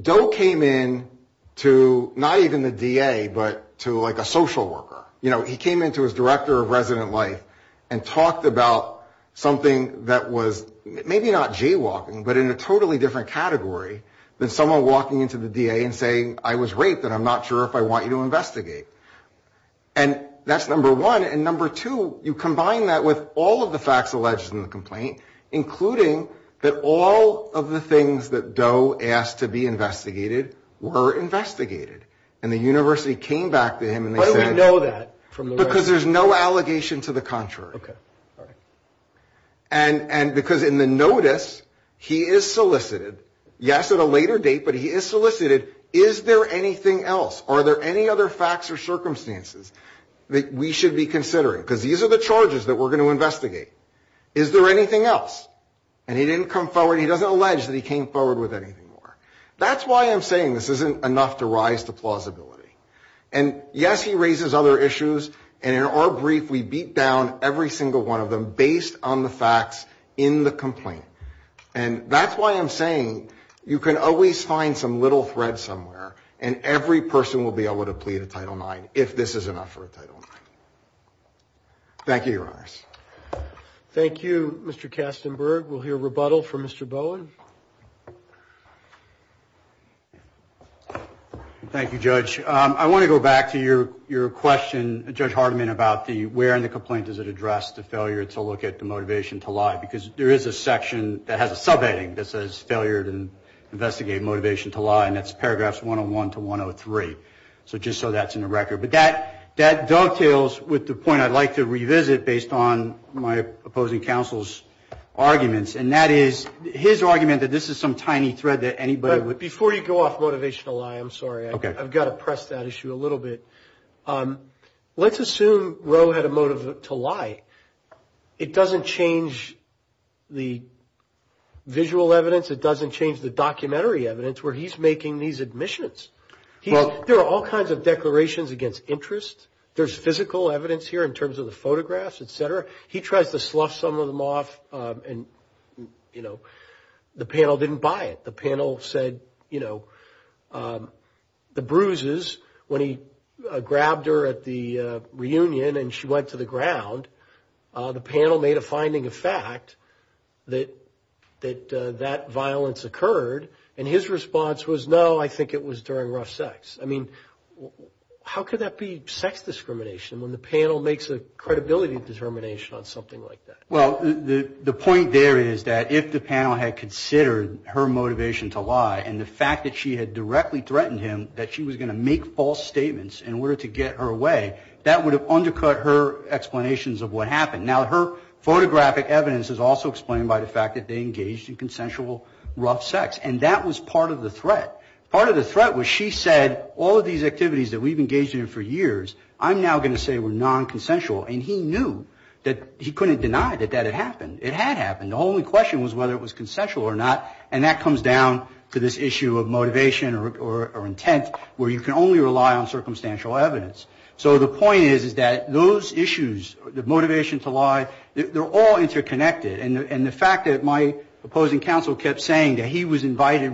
Doe came in to not even the DA, but to like a social worker. You know, he came in to his director of resident life and talked about something that was maybe not as serious. Not jaywalking, but in a totally different category than someone walking into the DA and saying I was raped and I'm not sure if I want you to investigate. And that's number one, and number two, you combine that with all of the facts alleged in the complaint, including that all of the things that Doe asked to be investigated were investigated. And the university came back to him and they said. Because there's no allegation to the contrary. And because in the notice he is solicited, yes, at a later date, but he is solicited, is there anything else? Are there any other facts or circumstances that we should be considering? Because these are the charges that we're going to investigate. Is there anything else? And he didn't come forward, he doesn't allege that he came forward with anything more. That's why I'm saying this isn't enough to rise to plausibility. And yes, he raises other issues, and in our brief, we beat down every single one of them based on the facts in the complaint. And that's why I'm saying you can always find some little thread somewhere, and every person will be able to plead a Title IX if this is enough for a Title IX. Thank you, Your Honors. Thank you, Mr. Kastenberg. We'll hear rebuttal from Mr. Bowen. Thank you, Judge. I want to go back to your question, Judge Hardiman, about the where in the complaint does it address the failure to look at the motivation to lie? Because there is a section that has a subheading that says failure to investigate motivation to lie, and that's paragraphs 101 to 103. So just so that's in the record. But that dovetails with the point I'd like to revisit based on my opposing counsel's arguments, and that is his argument that this is some tiny thread that anybody would Before you go off motivation to lie, I'm sorry, I've got to press that issue a little bit. Let's assume Roe had a motive to lie. It doesn't change the visual evidence, it doesn't change the documentary evidence where he's making these admissions. There are all kinds of declarations against interest. There's physical evidence here in terms of the photographs, et cetera. He tries to slough some of them off, and the panel didn't buy it. The panel said the bruises when he grabbed her at the reunion and she went to the ground, the panel made a finding of fact that that violence occurred. And his response was, no, I think it was during rough sex. I mean, how could that be sex discrimination when the panel makes a credibility determination on something like that? Well, the point there is that if the panel had considered her motivation to lie and the fact that she had directly threatened him that she was going to make false statements in order to get her away, that would have undercut her explanations of what happened. Now, her photographic evidence is also explained by the fact that they engaged in consensual rough sex. And that was part of the threat. Part of the threat was she said, all of these activities that we've engaged in for years, I'm now going to say were nonconsensual. And he knew that he couldn't deny that that had happened. It had happened. The only question was whether it was consensual or not, and that comes down to this issue of motivation or intent where you can only rely on somebody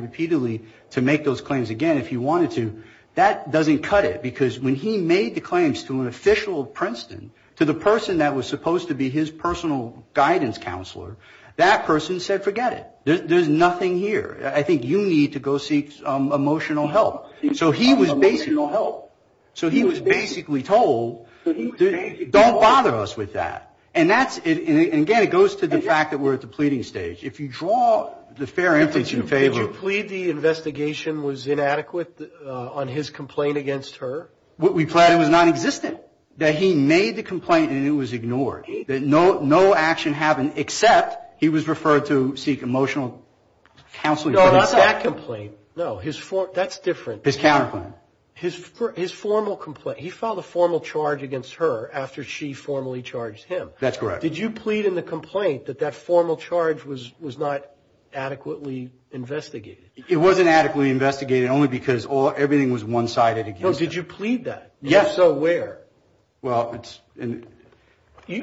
repeatedly to make those claims again if you wanted to. That doesn't cut it, because when he made the claims to an official of Princeton, to the person that was supposed to be his personal guidance counselor, that person said, forget it. There's nothing here. I think you need to go seek emotional help. So he was basically told, don't bother us with that. And that's, and again, it goes to the fact that we're at the pleading stage. If you draw the fair intention in favor. Did you plead the investigation was inadequate on his complaint against her? We plead it was nonexistent, that he made the complaint and it was ignored, that no action happened except he was referred to seek emotional counseling. No, not that complaint. No, his, that's different. His formal complaint. He filed a formal charge against her after she formally charged him. That's correct. Did you plead in the complaint that that formal charge was not adequately investigated? It wasn't adequately investigated, only because everything was one-sided. No, did you plead that? Yes. So where? Well, it's. You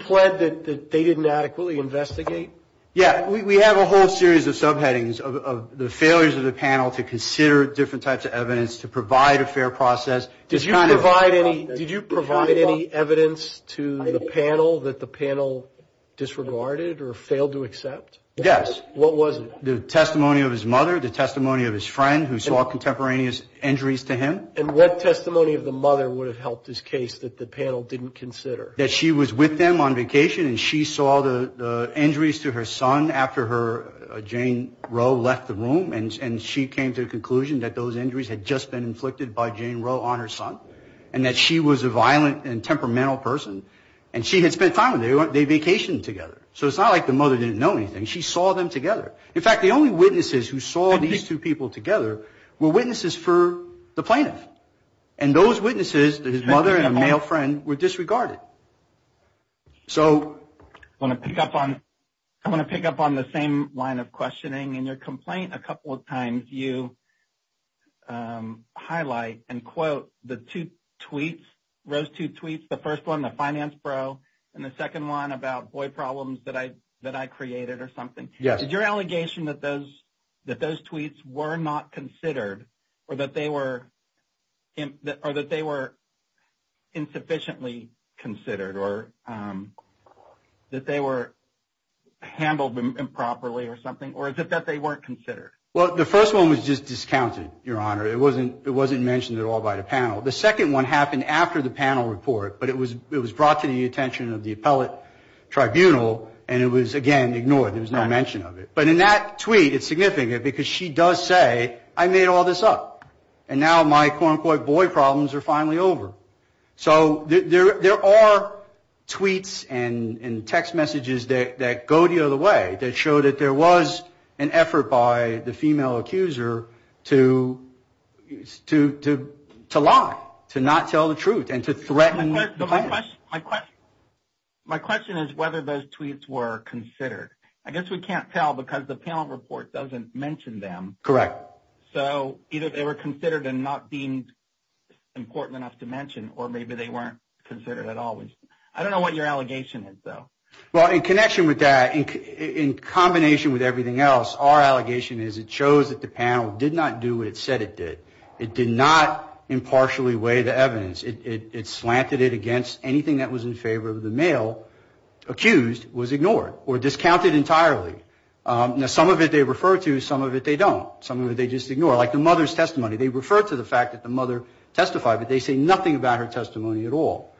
plead that they didn't adequately investigate? Yeah, we have a whole series of subheadings of the failures of the panel to consider different types of evidence to provide a fair process. Did you provide any evidence to the panel that the panel disregarded or failed to accept? Yes. What was it? The testimony of his mother, the testimony of his friend who saw contemporaneous injuries to him. And what testimony of the mother would have helped this case that the panel didn't consider? That she was with them on vacation and she saw the injuries to her son after her, Jane Rowe left the room and she came to the conclusion that those injuries had just been inflicted by Jane Rowe on her son. And that she was a violent and temperamental person. And she had spent time with him, they vacationed together. So it's not like the mother didn't know anything, she saw them together. In fact, the only witnesses who saw these two people together were witnesses for the plaintiff. And those witnesses, his mother and a male friend, were disregarded. I want to pick up on the same line of questioning. In your complaint, a couple of times you highlight and quote the two tweets, those two tweets. The first one, the finance bro, and the second one about boy problems that I created or something. Is your allegation that those tweets were not considered or that they were insufficiently considered? Or that they were handled improperly or something? Or is it that they weren't considered? Well, the first one was just discounted, your honor. It wasn't mentioned at all by the panel. The second one happened after the panel report, but it was brought to the attention of the appellate tribunal and it was, again, ignored. There was no mention of it. But in that tweet, it's significant because she does say, I made all this up. And now my quote-unquote boy problems are finally over. So there are tweets and text messages that go the other way that show that there was an effort by the female accuser to lie, to not tell the truth, and to threaten the plaintiff. My question is whether those tweets were considered. I guess we can't tell because the panel report doesn't mention them. So either they were considered and not deemed important enough to mention or maybe they weren't considered at all. I don't know what your allegation is, though. Well, in connection with that, in combination with everything else, our allegation is it shows that the panel did not do what it said it did. It did not impartially weigh the evidence. It slanted it against anything that was in favor of the male accused was ignored or discounted entirely. Now, some of it they refer to, some of it they don't, some of it they just ignore. Like the mother's testimony, they refer to the fact that the mother testified, but they say nothing about her testimony at all.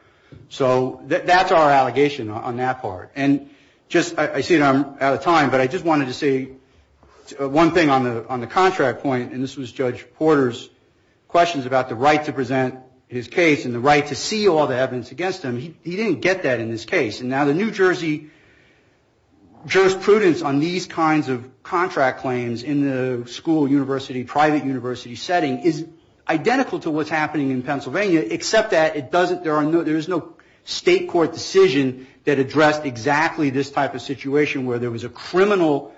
So that's our allegation on that part. And just, I see that I'm out of time, but I just wanted to say one thing on the contract point, and this was Judge Porter's questions about the right to present his case and the right to see all the evidence against him. He didn't get that in this case. And now the New Jersey jurisprudence on these kinds of contract claims in the school, university, private university setting is identical to what's happening in Pennsylvania, except that it doesn't, there is no state court decision that addressed exactly what's going on. It's exactly this type of situation where there was a criminal,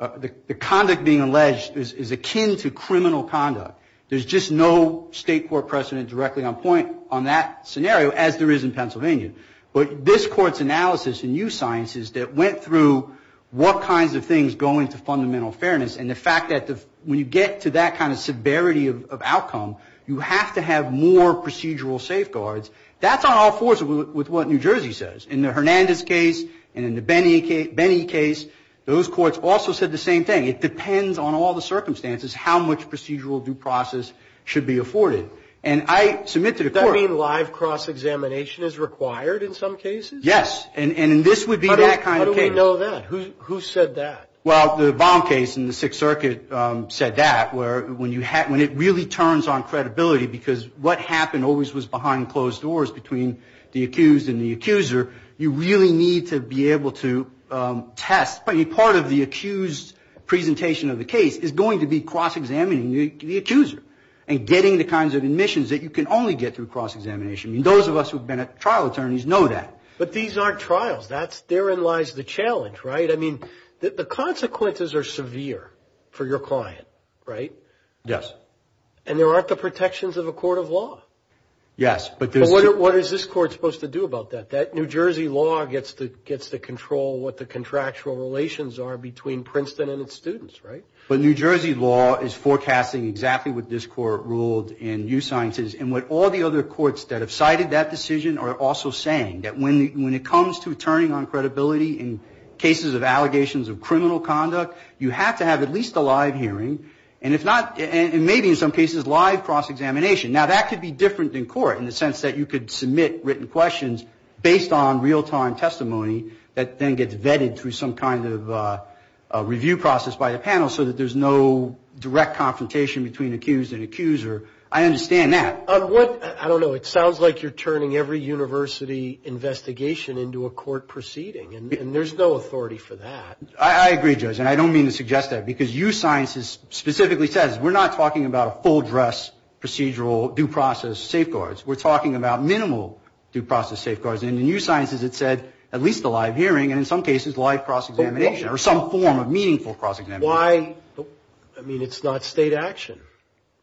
the conduct being alleged is akin to criminal conduct. There's just no state court precedent directly on point on that scenario, as there is in Pennsylvania. But this court's analysis and new sciences that went through what kinds of things go into fundamental fairness, and the fact that when you get to that kind of severity of outcome, you have to have more procedural safeguards, that's on all fours with what New Jersey says. In the Hernandez case, and in the Benny case, those courts also said the same thing. It depends on all the circumstances how much procedural due process should be afforded. And I submit to the court. That mean live cross-examination is required in some cases? How do we know that? Who said that? Well, the Baum case in the Sixth Circuit said that, where when it really turns on credibility, because what happened always was behind closed doors between the accused and the accuser, you really need to be able to test. Part of the accused presentation of the case is going to be cross-examining the accuser and getting the kinds of admissions that you can only get from the defendant. And that's a challenge, right? I mean, the consequences are severe for your client, right? Yes. And there aren't the protections of a court of law. Yes. But what is this court supposed to do about that? That New Jersey law gets to control what the contractual relations are between Princeton and its students, right? But New Jersey law is forecasting exactly what this court ruled in U Sciences. And what all the other courts that have cited that decision are also saying, that when it comes to turning on credibility in cases of allegations of criminal offense, it's different in court in the sense that you could submit written questions based on real-time testimony that then gets vetted through some kind of review process by the panel so that there's no direct confrontation between accused and accuser. I understand that. On what? I don't know. It sounds like you're turning every university investigation into a court proceeding, and there's no authority for that. I agree, Judge, and I don't mean to suggest that, because U Sciences specifically says we're not talking about a full dress procedural due process safeguards. We're talking about minimal due process safeguards. And in U Sciences, it said at least a live hearing, and in some cases, live cross-examination, or some form of meaningful cross-examination. Why? I mean, it's not state action.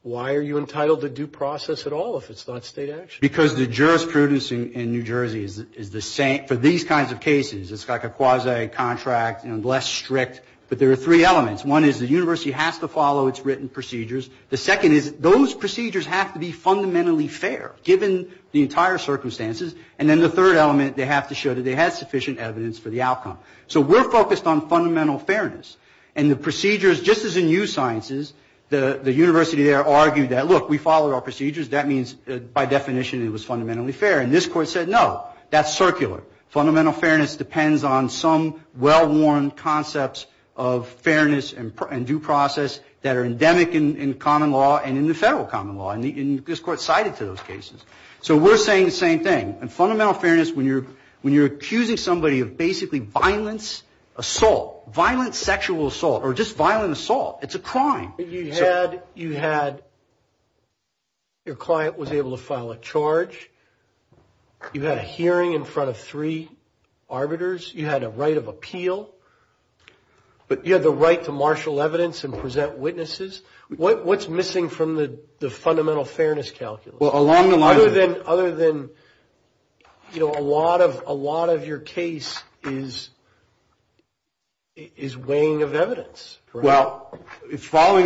Why are you entitled to due process at all if it's not state action? Because the jurisprudence in New Jersey is the same for these kinds of cases. It's like a quasi-contract, less strict. But there are three elements. One is the university has to follow its written procedures. The second is those procedures have to be fundamentally fair, given the entire circumstances. And then the third element, they have to show that they have sufficient evidence for the outcome. So we're focused on fundamental fairness. And the procedures, just as in U Sciences, the university there argued that, look, we followed our procedures. That means, by definition, it was fundamentally fair. And this court said, no, that's circular. Fundamental fairness depends on some well-worn concepts of fairness and due process that are endemic in common law and in the federal common law. And this court sided to those cases. So we're saying the same thing. And fundamental fairness, when you're accusing somebody of basically violence, assault, violent sexual assault, or just violent assault, it's a crime. You had your client was able to file a charge. You had a hearing in front of three arbiters. You had a right of appeal. But you had the right to marshal evidence and present witnesses. What's missing from the fundamental fairness calculus? Well, along the lines of... Going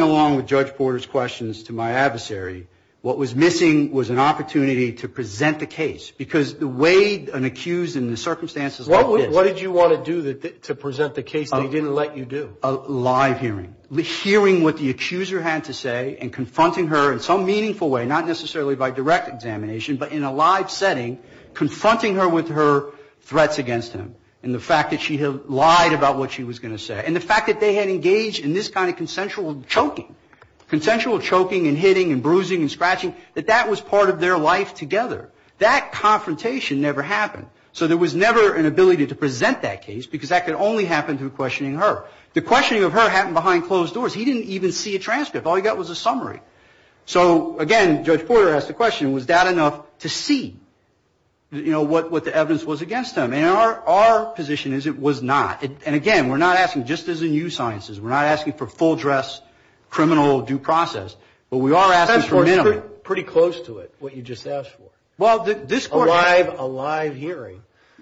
along with Judge Porter's questions to my adversary, what was missing was an opportunity to present the case. Because the way an accused in the circumstances like this... What did you want to do to present the case that he didn't let you do? A live hearing. Hearing what the accuser had to say and confronting her in some meaningful way, not necessarily by direct examination, but in a live setting, confronting her with her threats against him and the fact that she had lied about what she was going to say. And the fact that they had engaged in this kind of consensual choking, consensual choking and hitting and bruising and scratching, that that was part of their life together. That confrontation never happened. So there was never an ability to present that case, because that could only happen through questioning her. The questioning of her happened behind closed doors. He didn't even see a transcript. All he got was a summary. So again, Judge Porter asked the question, was that enough to see, you know, what the evidence was against him? And our position is it was not. And again, we're not asking, just as in you sciences, we're not asking for full dress criminal due process, but we are asking for minimal. That's pretty close to it, what you just asked for. A live hearing.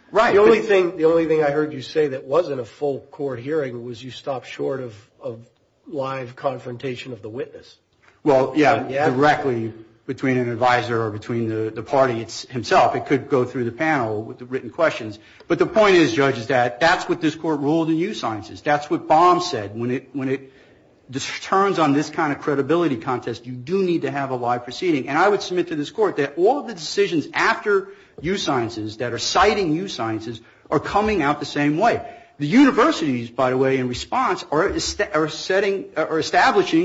Right. The only thing I heard you say that wasn't a full court hearing was you stopped short of live confrontation of the witness. Well, yeah, directly between an advisor or between the party himself. It could go through the panel with the written questions. But the point is, Judge, is that that's what this Court ruled in you sciences. That's what Baum said. When it turns on this kind of credibility contest, you do need to have a live proceeding. And I would submit to this Court that all of the decisions after you sciences that are citing you sciences are coming out the same way. The universities, by the way, in response, are establishing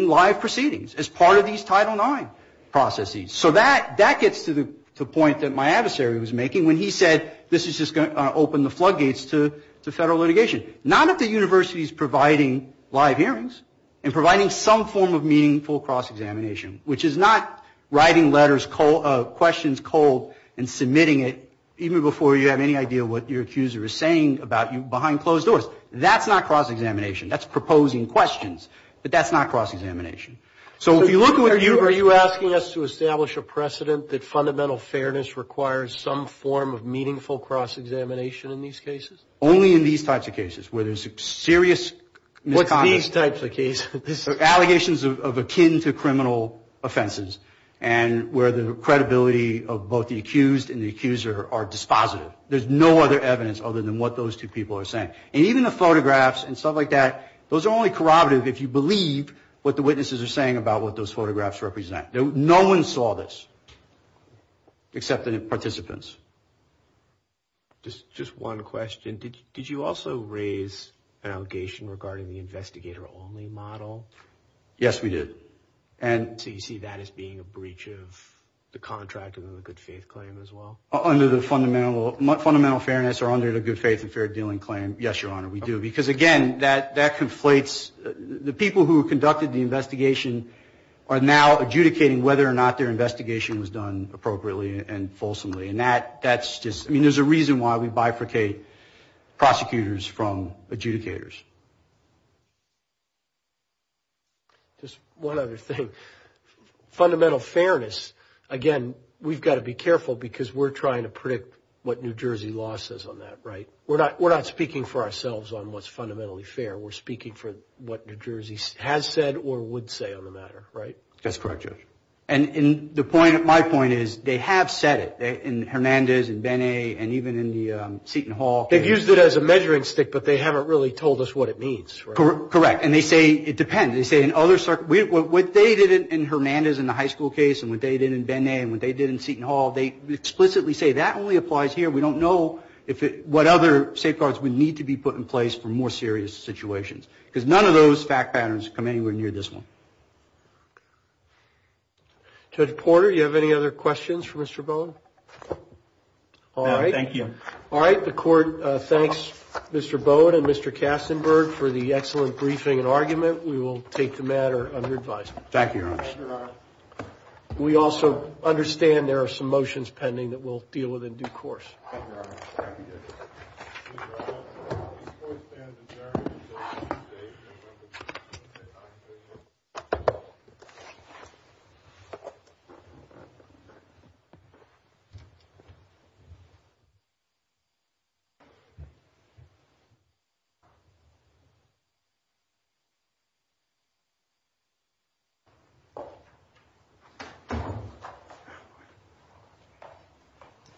live proceedings as part of these Title IX processes. So that gets to the point that my adversary was making when he said this is just going to open the floodgates to federal litigation. Not if the university is providing live hearings and providing some form of meaningful cross-examination, which is not writing letters, questions cold and submitting it even before you have any idea what your accuser is saying about you and closing doors. That's not cross-examination. That's proposing questions. But that's not cross-examination. So if you look at what you are you asking us to establish a precedent that fundamental fairness requires some form of meaningful cross-examination in these cases? Only in these types of cases where there's serious misconduct. What's these types of cases? Allegations akin to criminal offenses and where the credibility of both the accused and the accuser are dispositive. And even the photographs and stuff like that, those are only corroborative if you believe what the witnesses are saying about what those photographs represent. No one saw this except the participants. Just one question. Did you also raise an allegation regarding the investigator-only model? Yes, we did. So you see that as being a breach of the contract and the good faith claim as well? Under the fundamental fairness or under the good faith and fair dealing claim. Yes, Your Honor, we do. Because again, that conflates the people who conducted the investigation are now adjudicating whether or not their investigation was done appropriately and fulsomely. And that's just, I mean, there's a reason why we bifurcate prosecutors from adjudicators. Just one other thing. Fundamental fairness. Again, we've got to be careful because we're trying to predict what New Jersey law says on that, right? We're not speaking for ourselves on what's fundamentally fair. We're speaking for what New Jersey has said or would say on the matter, right? That's correct, Judge. And my point is they have said it in Hernandez and Benet and even in the Seton Hall case. They've used it as a measuring stick, but they haven't really told us what it means, right? Correct. And they say it depends. What they did in Hernandez in the high school case and what they did in Benet and what they did in Seton Hall, they explicitly say that only applies here. We don't know what other safeguards would need to be put in place for more serious situations. Because none of those fact patterns come anywhere near this one. Judge Porter, do you have any other questions for Mr. Bowen? No, thank you. All right, the Court thanks Mr. Bowen and Mr. Kastenberg for the excellent briefing and argument. We will take the matter under advisement. We also understand there are some motions pending that we'll deal with in due course. Thank you.